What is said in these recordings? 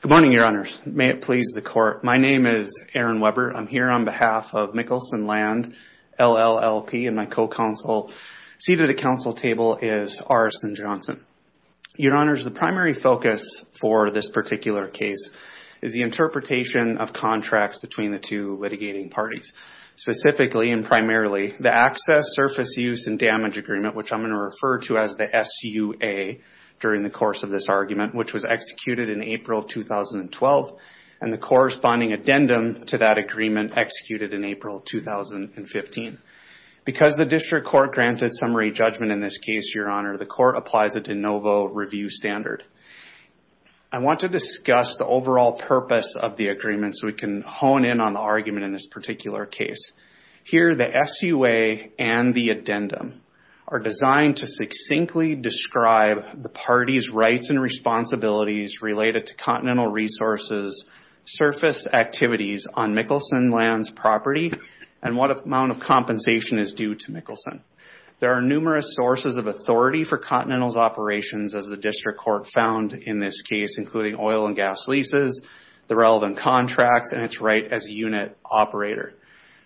Good morning, Your Honors. May it please the Court. My name is Aaron Weber. I'm here on behalf of Mikkelson Land, LLLP, and my co-counsel. Seated at the counsel table is Arson Johnson. Your Honors, the primary focus for this particular case is the interpretation of contracts between the two litigating parties. Specifically and primarily, the Access, Surface Use, and Damage Agreement, which I'm going to refer to as the SUA during the course of this argument, which was executed in April of 2012, and the corresponding addendum to that agreement executed in April 2015. Because the District Court granted summary judgment in this case, Your Honor, the Court applies a de novo review standard. I want to discuss the overall purpose of the agreement so we can hone in on the argument in this particular case. Here, the SUA and the addendum are designed to succinctly describe the parties' rights and responsibilities related to Continental Resources' surface activities on Mikkelson Land's property and what amount of compensation is due to Mikkelson. There are numerous sources of authority for Continental's operations, as the District Court found in this case, including oil and gas leases, the relevant contracts, and its right as a unit operator.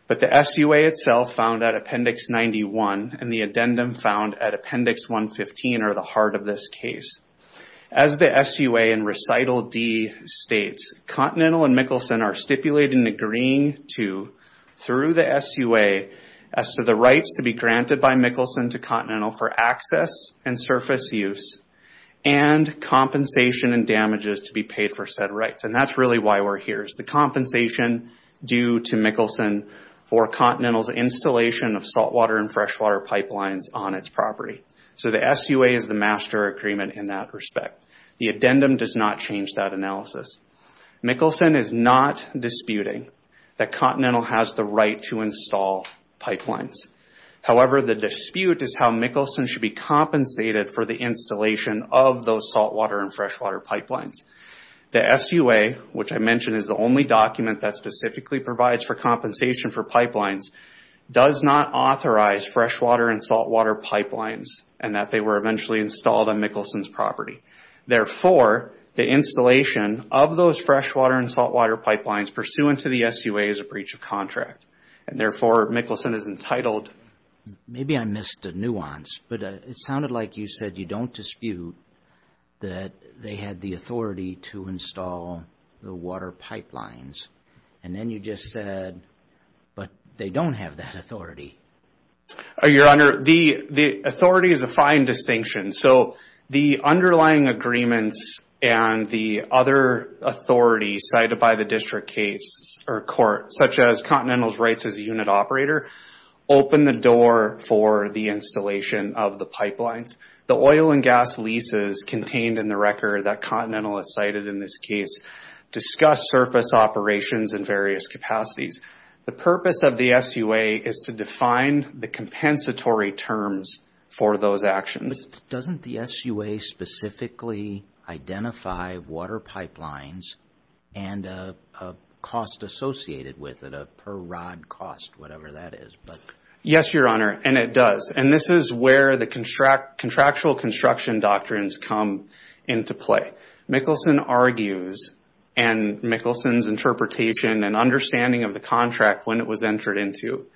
But the SUA itself found at Appendix 91 and the addendum found at Appendix 115 are the heart of this case. As the SUA in Recital D states, Continental and Mikkelson are stipulated in agreeing to, through the SUA, as to the rights to be granted by Mikkelson to Continental for access and surface use and compensation and damages to be paid for said rights. That's really why we're here. It's the compensation due to Mikkelson for Continental's installation of saltwater and freshwater pipelines on its property. The SUA is the master agreement in that respect. The addendum does not change that analysis. Mikkelson is not disputing that pipeline. However, the dispute is how Mikkelson should be compensated for the installation of those saltwater and freshwater pipelines. The SUA, which I mentioned is the only document that specifically provides for compensation for pipelines, does not authorize freshwater and saltwater pipelines and that they were eventually installed on Mikkelson's property. Therefore, the installation of those freshwater and saltwater pipelines pursuant to the SUA is a breach of contract. Therefore, Mikkelson is entitled... Maybe I missed a nuance, but it sounded like you said you don't dispute that they had the authority to install the water pipelines. Then you just said, but they don't have that authority. Your Honor, the authority is a fine distinction. The underlying agreements and the other authority cited by the District Court, such as Continental's rights as a unit operator, open the door for the installation of the pipelines. The oil and gas leases contained in the record that Continental has cited in this case discuss surface operations in various capacities. The purpose of the SUA is to define the compensatory terms for those costs associated with it, a per-rod cost, whatever that is. Yes, Your Honor, and it does. This is where the contractual construction doctrines come into play. Mikkelson argues and Mikkelson's interpretation and understanding of the contract when it was entered into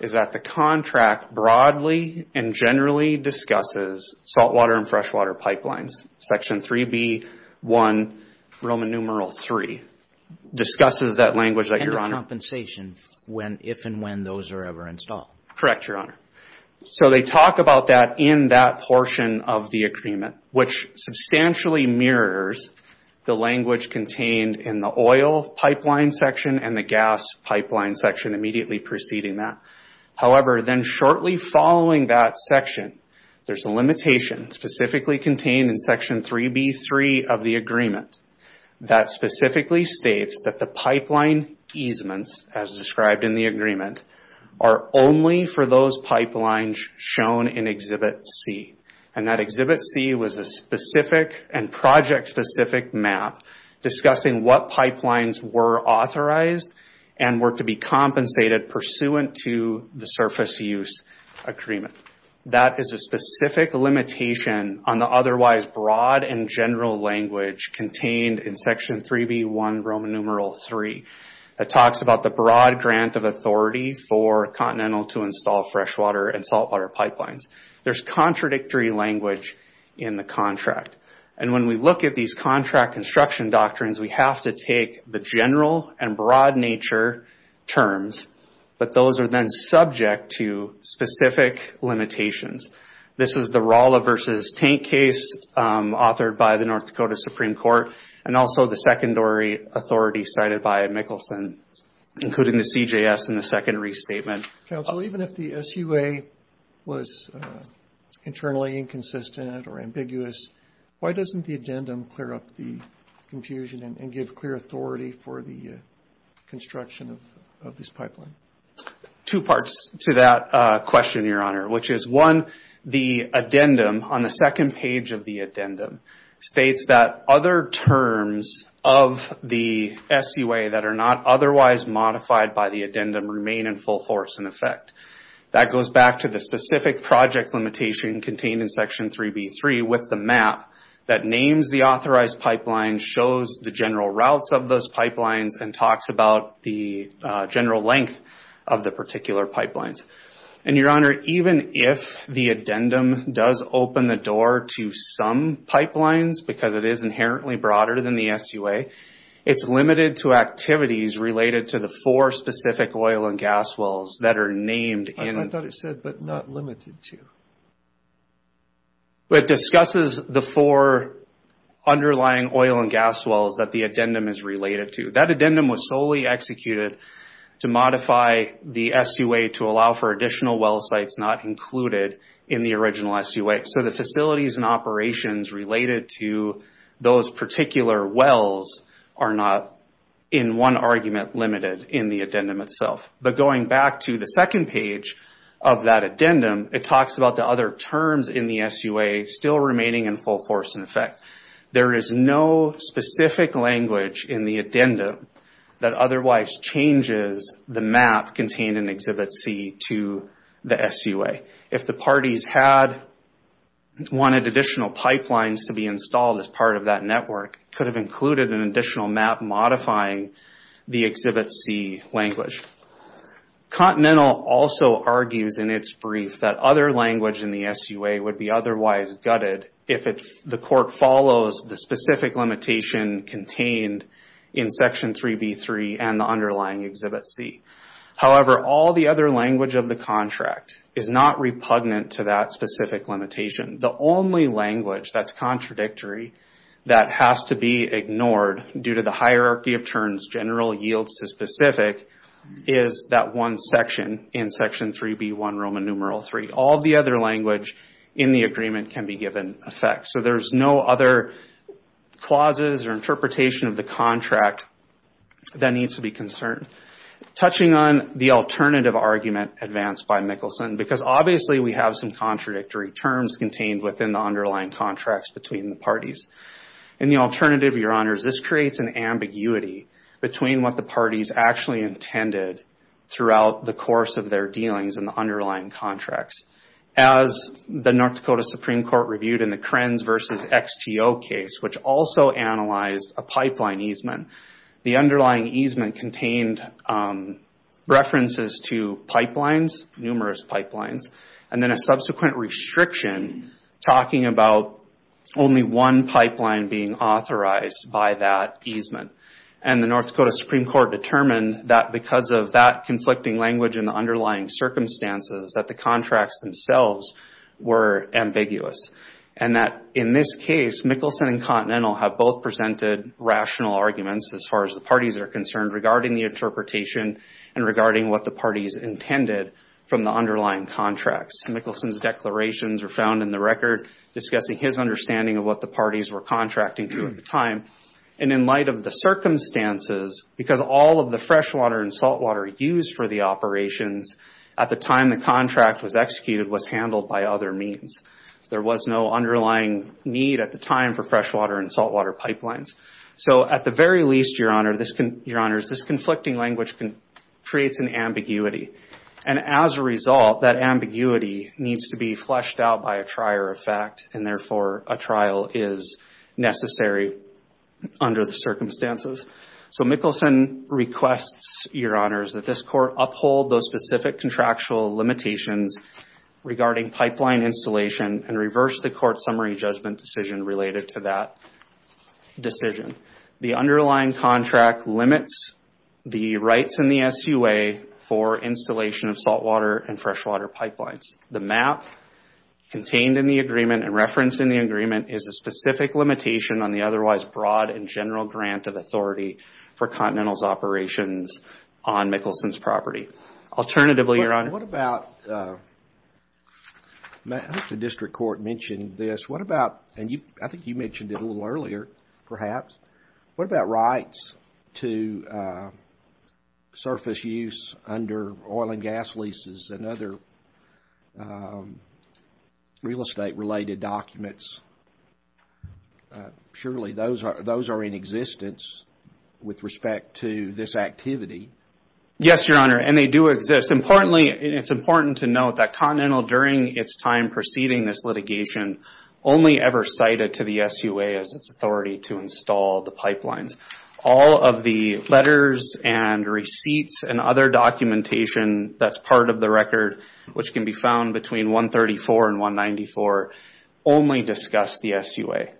is that the contract broadly and generally discusses saltwater and freshwater pipelines, section 3B1 Roman numeral 3, discusses that language that Your Honor... And the compensation if and when those are ever installed. Correct, Your Honor. They talk about that in that portion of the agreement, which substantially mirrors the language contained in the oil pipeline section and the gas pipeline section immediately preceding that. However, then shortly following that section, there's a limitation specifically contained in section 3B3 of the agreement that specifically states that the pipeline easements, as described in the agreement, are only for those pipelines shown in Exhibit C. And that Exhibit C was a specific and project-specific map discussing what pipelines were authorized and were to be compensated pursuant to the surface use agreement. That is a specific limitation on the otherwise broad and general language contained in section 3B1 Roman numeral 3. It talks about the broad grant of authority for Continental to install freshwater and saltwater pipelines. There's contradictory language in the contract. And when we look at these contract construction doctrines, we have to take the general and broad nature terms. But those are then subject to specific limitations. This is the Rolla versus Taint case authored by the North Dakota Supreme Court and also the secondary authority cited by Mickelson, including the CJS in the secondary statement. Counsel, even if the SUA was internally inconsistent or ambiguous, why doesn't the addendum clear up the confusion and give clear authority for the construction of this pipeline? Two parts to that question, Your Honor. Which is, one, the addendum on the second page of the addendum states that other terms of the SUA that are not otherwise modified by the addendum remain in full force in effect. That goes back to the specific project limitation contained in section 3B3 with the map that names the authorized pipelines, shows the general routes of those pipelines, and talks about the general length of the particular pipelines. And, Your Honor, even if the addendum does open the door to some pipelines, because it is inherently broader than the SUA, it's limited to activities related to the four specific oil and gas wells that are named in... I thought it said, but not limited to. It discusses the four underlying oil and gas wells that the addendum is related to. That addendum was solely executed to modify the SUA to allow for additional well sites not included in the original SUA. So the facilities and operations related to those particular wells are not, in one argument, limited in the addendum itself. But going back to the second page of that addendum, it talks about the other terms in the SUA still remaining in full force in effect. There is no specific language in the addendum that otherwise changes the map contained in Exhibit C to the SUA. If the parties had wanted additional pipelines to be installed as part of that network, could have included an additional map modifying the Exhibit C language. Continental also argues in its brief that other language in the SUA would be otherwise gutted if the court follows the specific limitation contained in Section 3B3 and the underlying Exhibit C. However, all the other language of the contract is not repugnant to that specific limitation. The only language that's contradictory that has to be ignored due to the hierarchy of terms general yields to specific is that one section in Section 3B1 Roman numeral 3. All the other language in the agreement can be given effect. So there's no other clauses or interpretation of the contract that needs to be concerned. Touching on the alternative argument advanced by Mickelson, because obviously we have some contradictory terms contained within the underlying contracts between the parties. In the alternative, Your Honors, this creates an ambiguity between what the parties actually intended throughout the course of their dealings in the underlying contracts. As the North Dakota Supreme Court reviewed in the Krenz v. XTO case, which also analyzed a pipeline easement, the underlying easement contained references to pipelines, numerous pipelines, and then a subsequent restriction talking about only one pipeline being authorized by that easement. The North Dakota Supreme Court determined that because of that conflicting language and the underlying circumstances that the contracts themselves were ambiguous. In this case, Mickelson and Continental have both presented rational arguments as far as the parties are concerned regarding the interpretation and regarding what the parties intended from the underlying contracts. Mickelson's declarations are found in the record discussing his understanding of what the parties were contracting to at the time. In light of the circumstances, because all of the freshwater and saltwater used for the operations at the time the contract was executed was handled by other means. There was no underlying need at the time for freshwater and saltwater pipelines. At the very least, Your Honors, this conflicting language creates an ambiguity. As a result, that ambiguity needs to be fleshed out by a trier of fact, and therefore a trial is necessary under the circumstances. So, Mickelson requests, Your Honors, that this court uphold those specific contractual limitations regarding pipeline installation and reverse the court's summary judgment decision related to that decision. The underlying contract limits the rights in the SUA for installation of saltwater and freshwater pipelines. The map contained in the agreement and referenced in the agreement is a specific limitation on the otherwise broad and general grant of authority for Continental's operations on Mickelson's property. Alternatively, Your Honor... What about... I think the district court mentioned this. What about... I think you mentioned it a little earlier, perhaps. What about rights to surface use under oil and gas leases and other real estate related documents? Surely those are in existence with respect to this activity. Yes, Your Honor, and they do exist. It's important to note that Continental, during its time preceding this litigation, only ever cited to the SUA as its authority to install the pipelines. All of the letters and receipts and other documentation that's part of the record, which can be found between 134 and 194, only discuss the SUA.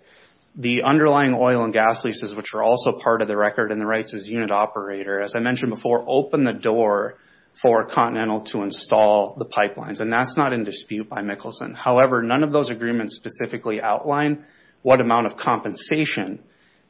The underlying oil and gas leases, which are also part of the record and the rights as unit operator, as I mentioned before, open the door for Continental to install the pipelines. That's not in dispute by Mickelson. However, none of those agreements specifically outline what amount of compensation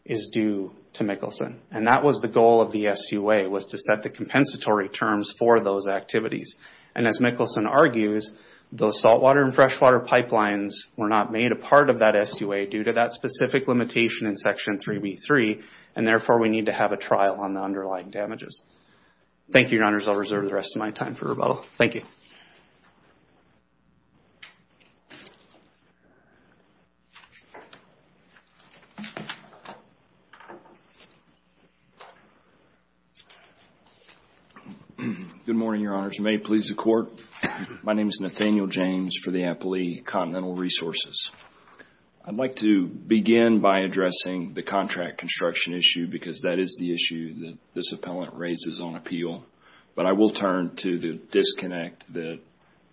is due to Mickelson. That was the goal of the SUA, was to set the compensatory terms for those activities. As Mickelson argues, those saltwater and freshwater pipelines were not made a part of that SUA due to that specific limitation in Section 3B3. Therefore, we need to have a trial on the underlying damages. Thank you, Your Honors. I'll reserve the rest of my time for rebuttal. Thank you. Good morning, Your Honors. May it please the Court. My name is Nathaniel James for the Applea Continental Resources. I'd like to begin by addressing the contract construction issue because that is the issue that this appellant raises on appeal. But I will turn to the disconnect that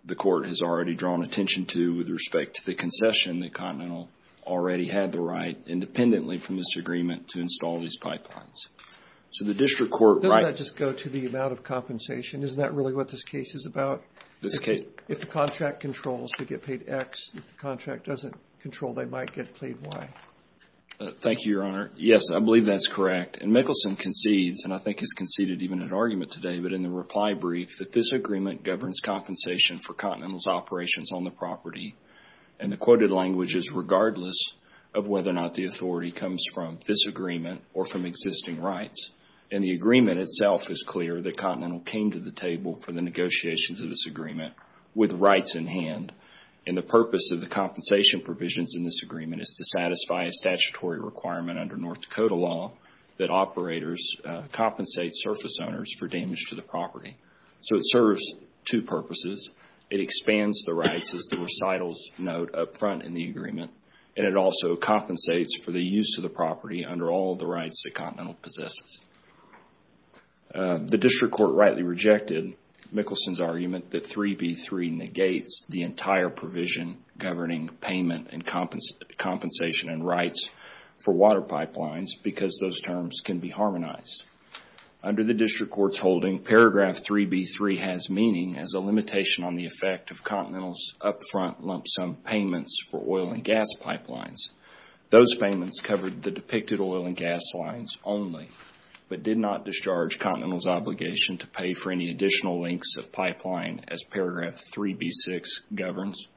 the Court has already drawn attention to with respect to the concession that Continental already had the right, independently from this agreement, to install these pipelines. So the District Court right... Doesn't that just go to the amount of compensation? Isn't that really what this case is about? If the contract controls to get paid X, if the contract doesn't control they might get paid Y. Thank you, Your Honor. Yes, I believe that's correct. And Mickelson concedes, and I think has conceded even an argument today, but in the reply brief that this agreement governs compensation for Continental's operations on the property. And the quoted language is regardless of whether or not the authority comes from this agreement or from existing rights. And the agreement itself is clear that Continental came to the table for the negotiations of this agreement with rights in hand. And the purpose of the compensation provisions in this agreement is to satisfy a statutory requirement under North Dakota law that operators compensate surface owners for damage to the property. So it serves two purposes. It expands the rights as the recitals note up front in the agreement. And it also compensates for the use of the property under all the rights that Continental possesses. The District Court rightly rejected Mickelson's argument that 3B3 negates the entire provision governing payment and compensation and rights for water pipelines because those terms can be harmonized. Under the District Court's holding, paragraph 3B3 has meaning as a limitation on the effect of Continental's up front lump sum payments for oil and gas pipelines. Those payments covered the depicted oil and gas lines only, but did not discharge Continental's obligation to pay for any additional links of pipeline as paragraph 3B6 governs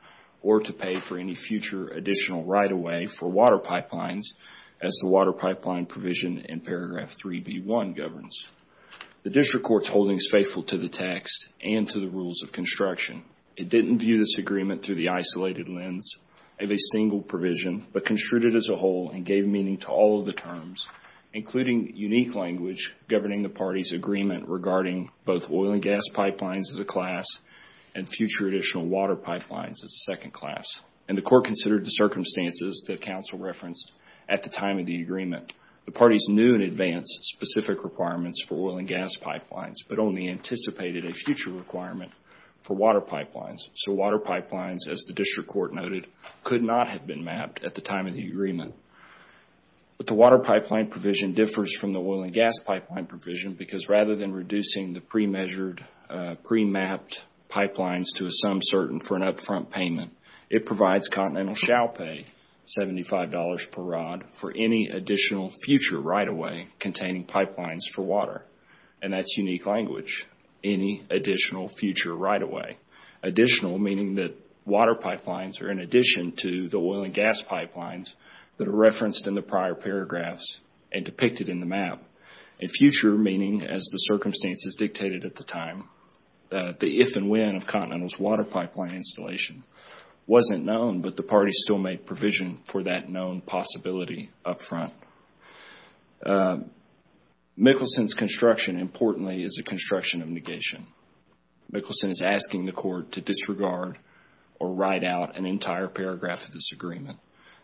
or to pay for any future additional right-of-way for water pipelines as the water pipeline provision in paragraph 3B1 governs. The District Court's holding is faithful to the text and to the rules of construction. It didn't view this agreement through the isolated lens of a single provision, but construed it as a whole and gave meaning to all of the terms, including unique language governing the party's agreement regarding both oil and gas pipelines as a class and future additional water pipelines as a second class. The court considered the circumstances that counsel referenced at the time of the agreement. The parties knew in advance specific requirements for oil and gas pipelines, but only anticipated a future requirement for water pipelines. Water pipelines, as the District Court noted, could not have been mapped at the time of the agreement. The water pipeline provision differs from the oil and gas pipeline provision because rather than reducing the pre-measured, pre-mapped pipelines to a sum certain for an up-front payment, it provides Continental shall pay $75 per rod for any additional future right-of-way containing pipelines for water. And that's unique language, any additional future right-of-way. Additional meaning that water pipelines are in addition to the oil and gas pipelines, that are referenced in the prior paragraphs and depicted in the map. A future meaning, as the circumstances dictated at the time, the if and when of Continental's water pipeline installation wasn't known, but the parties still made provision for that known possibility up front. Mickelson's construction, importantly, is a construction of negation. Mickelson is asking the court to disregard or write out an entire paragraph of this agreement.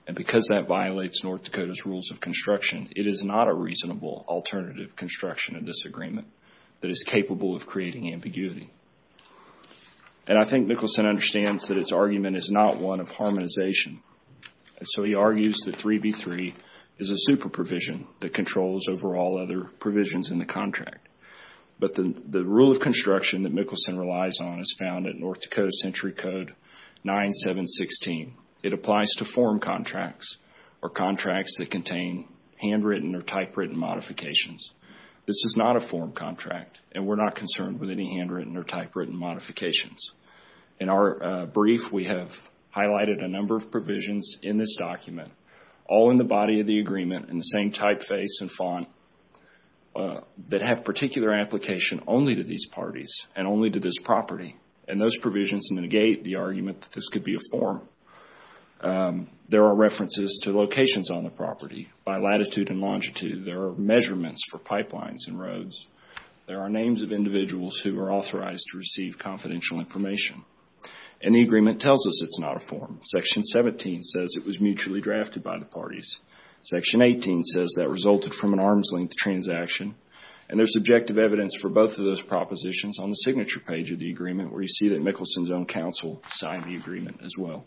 And because that violates North Dakota's rules of construction, it is not a reasonable alternative construction of this agreement that is capable of creating ambiguity. And I think Mickelson understands that its argument is not one of harmonization. And so he argues that 3B3 is a super provision that controls over all other provisions in the contract. But the rule of construction that Mickelson relies on is found at North Dakota Century Code 9716. It applies to form contracts or contracts that contain handwritten or typewritten modifications. This is not a form contract, and we're not concerned with any handwritten or typewritten modifications. In our brief, we have highlighted a number of provisions in this document, all in the body of the agreement in the same typeface and font, that have particular application only to these parties and only to this property. And those provisions negate the argument that this could be a form. There are references to locations on the property by latitude and longitude. There are measurements for pipelines and roads. There are names of individuals who are authorized to receive confidential information. And the agreement tells us it's not a form. Section 17 says it was mutually drafted by the parties. Section 18 says that resulted from an arm's-length transaction. And there's subjective evidence for both of those propositions on the signature page of the agreement where you see that Mickelson's own counsel signed the agreement as well.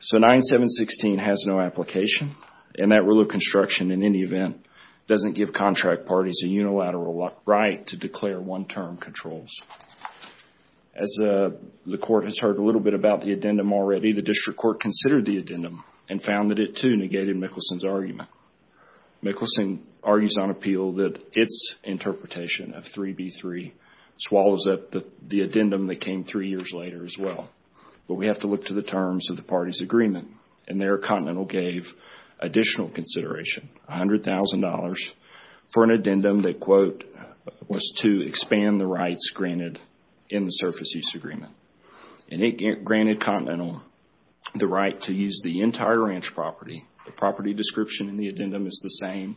So 9716 has no application. And that rule of construction, in any event, doesn't give contract parties a unilateral right to declare one-term controls. As the Court has heard a little bit about the addendum already, the District Court considered the addendum and found that it, too, negated Mickelson's argument. Mickelson argues on appeal that its interpretation of 3B3 swallows up the addendum that came three years later as well. But we have to look to the terms of the parties' agreement. And there Continental gave additional consideration, $100,000, for an addendum that, quote, was to expand the rights granted in the Surface Use Agreement. And it granted Continental the right to use the entire ranch property. The property description in the addendum is the same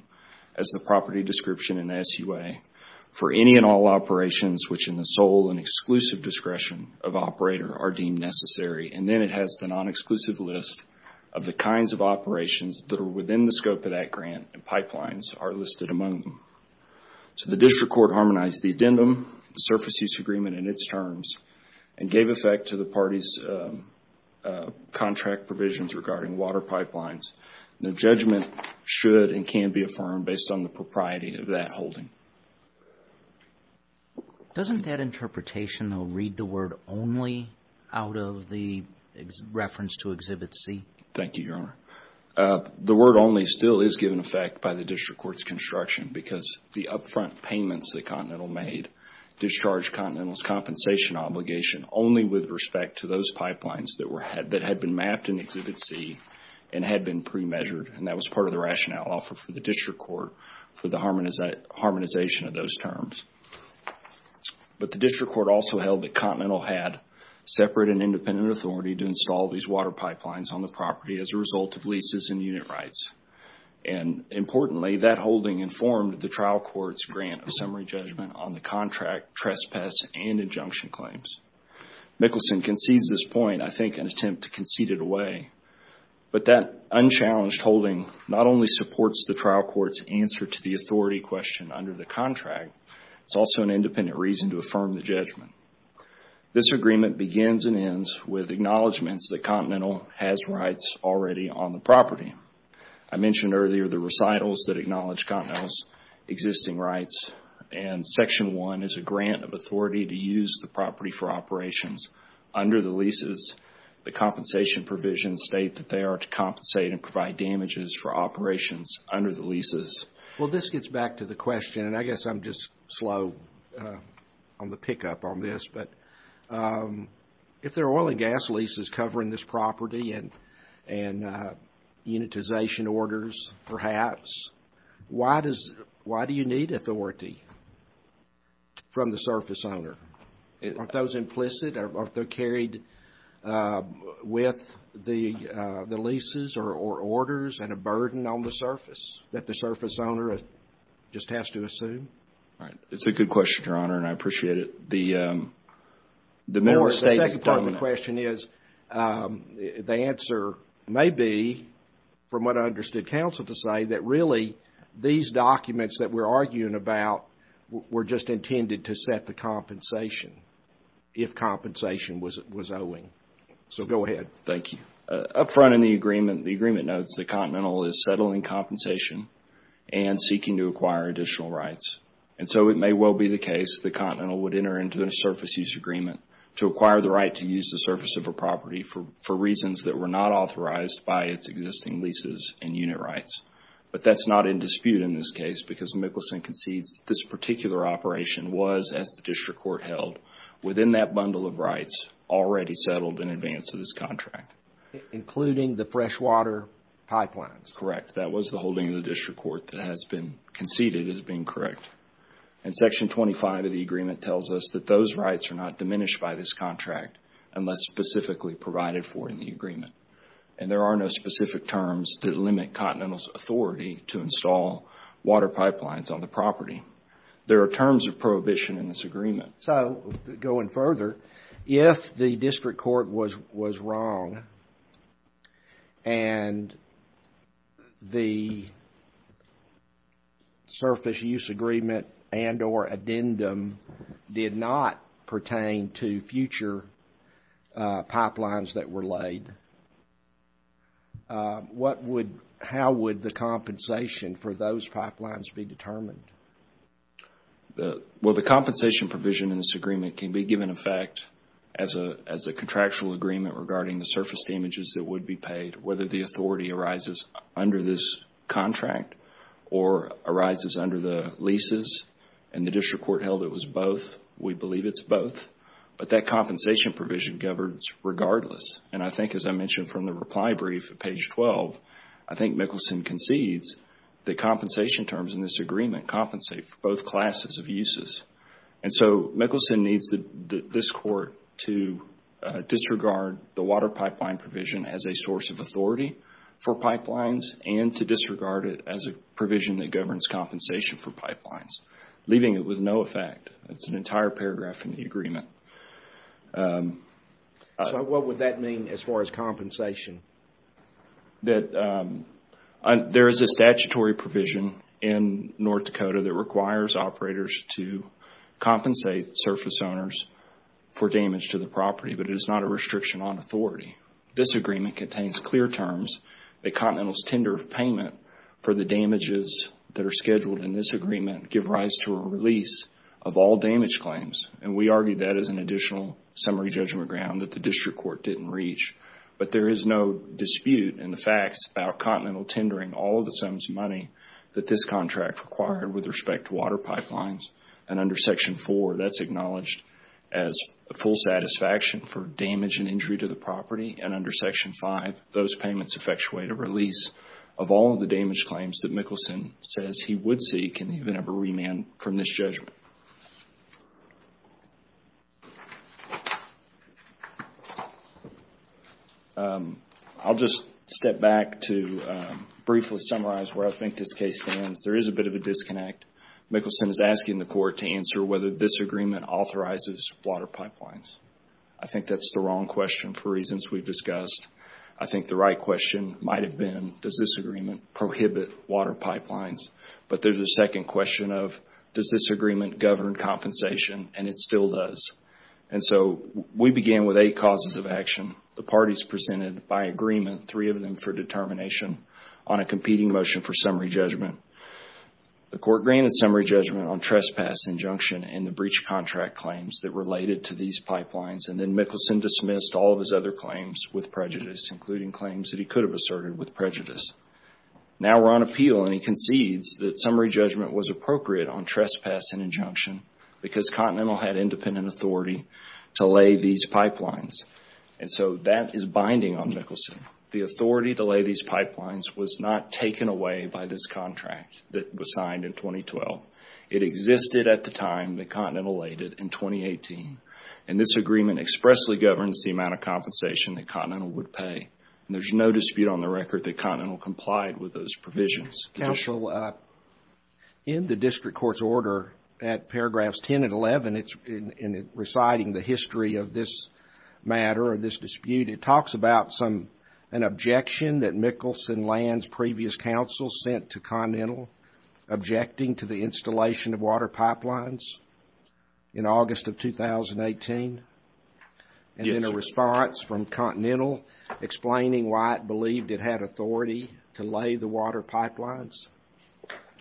as the property description in SUA for any and all operations which in the sole and exclusive discretion of operator are deemed necessary. And then it has the non-exclusive list of the kinds of operations that are within the scope of that grant and pipelines are listed among them. So the District Court harmonized the addendum, the Surface Use Agreement and its terms, and gave effect to the parties' contract provisions regarding water pipelines. The judgment should and can be affirmed based on the propriety of that holding. Doesn't that interpretation, though, read the word only out of the reference to Exhibit C? Thank you, Your Honor. The word only still is given effect by the District Court's construction because the upfront payments that Continental made discharged Continental's compensation obligation only with respect to those pipelines that had been mapped in Exhibit C and had been pre-measured. And that was part of the rationale offered for the District Court for the harmonization of those terms. But the District Court also held that Continental had separate and independent authority to install these water pipelines on the property as a result of leases and unit rights. And importantly, that holding informed the trial court's grant of summary judgment on the contract, trespass, and injunction claims. Mickelson concedes this point, I think in an attempt to concede it away. But that unchallenged holding not only supports the trial court's answer to the authority question under the contract, it's also an independent reason to affirm the judgment. This agreement begins and ends with acknowledgments that Continental has rights already on the property. I mentioned earlier the recitals that acknowledge Continental's existing rights, and Section 1 is a grant of authority to use the property for operations. Under the leases, the compensation provisions state that they are to compensate and provide damages for operations under the leases. Well, this gets back to the question, and I guess I'm just slow on the pickup on this, but if there are oil and gas leases covering this property and unitization orders, perhaps, why do you need authority from the surface owner? Aren't those implicit? Aren't they carried with the leases or orders and a burden on the surface that the surface owner just has to assume? Right. It's a good question, Your Honor, and I appreciate it. The second part of the question is, the answer may be, from what I understood counsel to say, that really these documents that we're arguing about were just intended to set the compensation, if compensation was owing. So go ahead. Thank you. Up front in the agreement, the agreement notes that Continental is settling compensation and seeking to acquire additional rights. And so it may well be the case that Continental would enter into a surface use agreement to acquire the right to use the surface of a property for reasons that were not authorized by its existing leases and unit rights. But that's not in dispute in this case because Mickelson concedes this particular operation was, as the district court held, within that bundle of rights already settled in advance of this contract. Including the freshwater pipelines. That's correct. That was the holding of the district court that has been conceded as being correct. And Section 25 of the agreement tells us that those rights are not diminished by this contract unless specifically provided for in the agreement. And there are no specific terms that limit Continental's authority to install water pipelines on the property. There are terms of prohibition in this agreement. So, going further, if the district court was wrong and the surface use agreement and or addendum did not pertain to future pipelines that were laid, how would the compensation for those pipelines be determined? Well, the compensation provision in this agreement can be given effect as a contractual agreement regarding the surface damages that would be paid, whether the authority arises under this contract or arises under the leases. And the district court held it was both. We believe it's both. But that compensation provision governs regardless. And I think, as I mentioned from the reply brief at page 12, I think Mickelson concedes that compensation terms in this agreement compensate for both classes of uses. And so, Mickelson needs this court to disregard the water pipeline provision as a source of authority for pipelines and to disregard it as a provision that governs compensation for pipelines, leaving it with no effect. That's an entire paragraph in the agreement. So, what would that mean as far as compensation? There is a statutory provision in North Dakota that requires operators to compensate surface owners for damage to the property, but it is not a restriction on authority. This agreement contains clear terms that Continental's tender of payment for the damages that are scheduled in this agreement give rise to a release of all damage claims. And we argue that as an additional summary judgment ground that the district court didn't reach. But there is no dispute in the facts about Continental tendering all of the sums of money that this contract required with respect to water pipelines. And under Section 4, that's acknowledged as a full satisfaction for damage and injury to the property. And under Section 5, those payments effectuate a release of all of the damage claims that Mickelson says he would seek and even have a remand from this judgment. I'll just step back to briefly summarize where I think this case stands. There is a bit of a disconnect. Mickelson is asking the court to answer whether this agreement authorizes water pipelines. I think that's the wrong question for reasons we've discussed. I think the right question might have been, does this agreement prohibit water pipelines? But there's a second question of, does this agreement govern compensation? And it still does. And so, we began with eight causes of action. The parties presented by agreement, three of them for determination, on a competing motion for summary judgment. The court granted summary judgment on trespass, injunction, and the breach contract claims that related to these pipelines. And then Mickelson dismissed all of his other claims with prejudice, including claims that he could have asserted with prejudice. Now we're on appeal, and he concedes that summary judgment was appropriate on trespass and injunction because Continental had independent authority to lay these pipelines. And so, that is binding on Mickelson. The authority to lay these pipelines was not taken away by this contract that was signed in 2012. It existed at the time that Continental laid it in 2018. And this agreement expressly governs the amount of compensation that Continental would pay. And there's no dispute on the record that Continental complied with those provisions. Counsel, in the district court's order at paragraphs 10 and 11, it's reciting the history of this matter or this dispute. It talks about an objection that Mickelson lands previous counsel sent to Continental objecting to the installation of water pipelines in August of 2018. And then a response from Continental explaining why it believed it had authority to lay the water pipelines.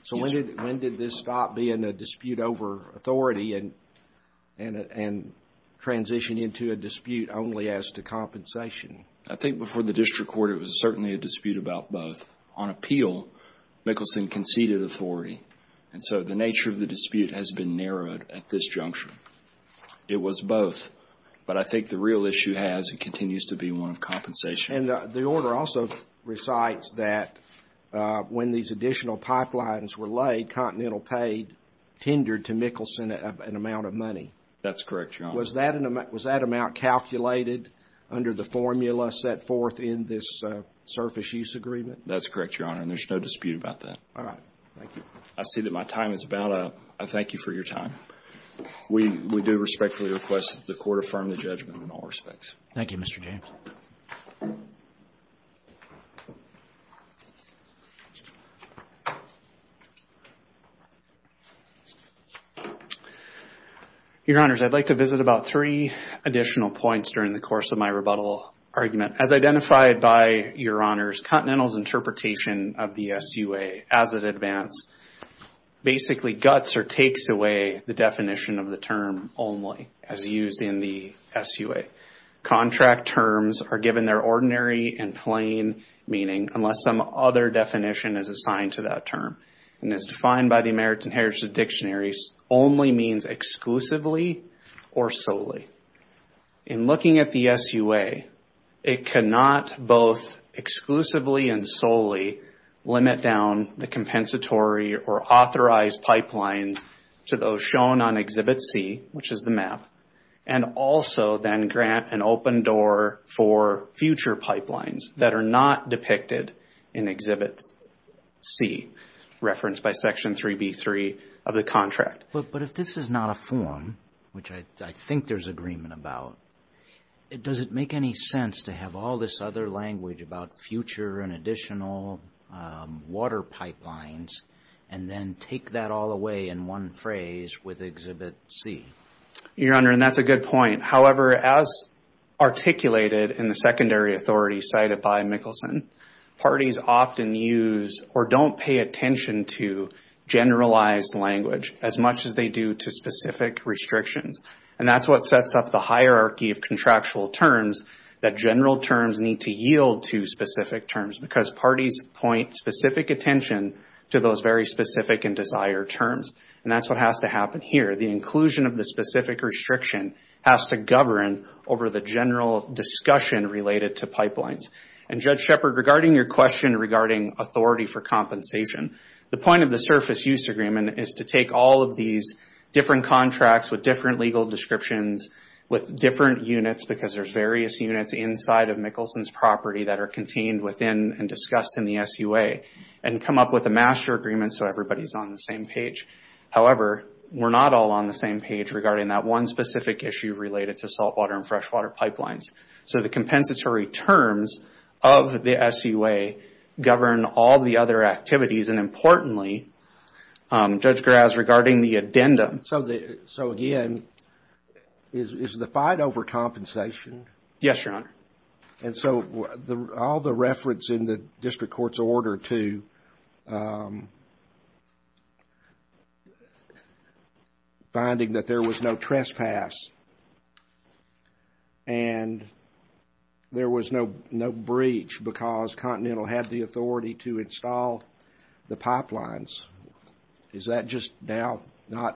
So when did this stop being a dispute over authority and transition into a dispute only as to compensation? I think before the district court, it was certainly a dispute about both. On appeal, Mickelson conceded authority. And so the nature of the dispute has been narrowed at this junction. It was both. But I think the real issue has and continues to be one of compensation. And the order also recites that when these additional pipelines were laid, Continental paid, tendered to Mickelson, an amount of money. That's correct, Your Honor. Was that amount calculated under the formula set forth in this surface use agreement? That's correct, Your Honor. And there's no dispute about that. All right. Thank you. I see that my time is about up. I thank you for your time. We do respectfully request that the Court affirm the judgment in all respects. Thank you, Mr. James. Your Honors, I'd like to visit about three additional points during the course of my rebuttal argument. As identified by Your Honors, Continental's interpretation of the SUA as it advanced basically guts or takes away the definition of the term only as used in the SUA. Contract terms are given their ordinary and plain meaning unless some other definition is assigned to that term. And as defined by the American Heritage Dictionary, only means exclusively or solely. In looking at the SUA, it cannot both exclusively and solely limit down the compensatory or authorized pipelines to those shown on Exhibit C, which is the map, and also then grant an open door for future pipelines that are not depicted in Exhibit C, referenced by Section 3B3 of the contract. But if this is not a form, which I think there's agreement about, does it make any sense to have all this other language about future and additional water pipelines and then take that all away in one phrase with Exhibit C? Your Honor, and that's a good point. However, as articulated in the secondary authority cited by Mickelson, parties often use or don't pay attention to generalized language as much as they do to specific restrictions. And that's what sets up the hierarchy of contractual terms that general terms need to yield to specific terms because parties point specific attention to those very specific and desired terms. And that's what has to happen here. The inclusion of the specific restriction has to govern over the general discussion related to pipelines. And Judge Shepard, regarding your question regarding authority for compensation, the point of the surface use agreement is to take all of these different contracts with different legal descriptions with different units because there's various units inside of Mickelson's property that are contained within and discussed in the SUA and come up with a master agreement so everybody's on the same page. However, we're not all on the same page regarding that one specific issue related to saltwater and freshwater pipelines. So the compensatory terms of the SUA govern all the other activities. And importantly, Judge Graz, regarding the addendum. So again, is the fight over compensation? Yes, Your Honor. And so all the reference in the district court's order to finding that there was no trespass and there was no breach because Continental had the authority to install the pipelines. Is that just now not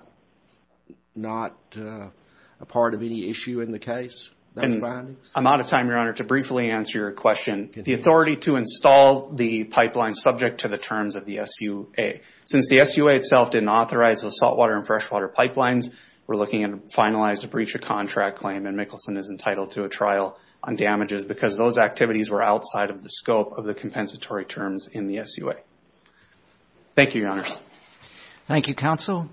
a part of any issue in the case? I'm out of time, Your Honor, to briefly answer your question. The authority to install the pipelines subject to the terms of the SUA. Since the SUA itself didn't authorize the saltwater and freshwater pipelines, we're looking at a finalized breach of contract claim and Mickelson is entitled to a trial on damages because those activities were outside of the scope of the compensatory terms in the SUA. Thank you, Your Honors. Thank you, counsel.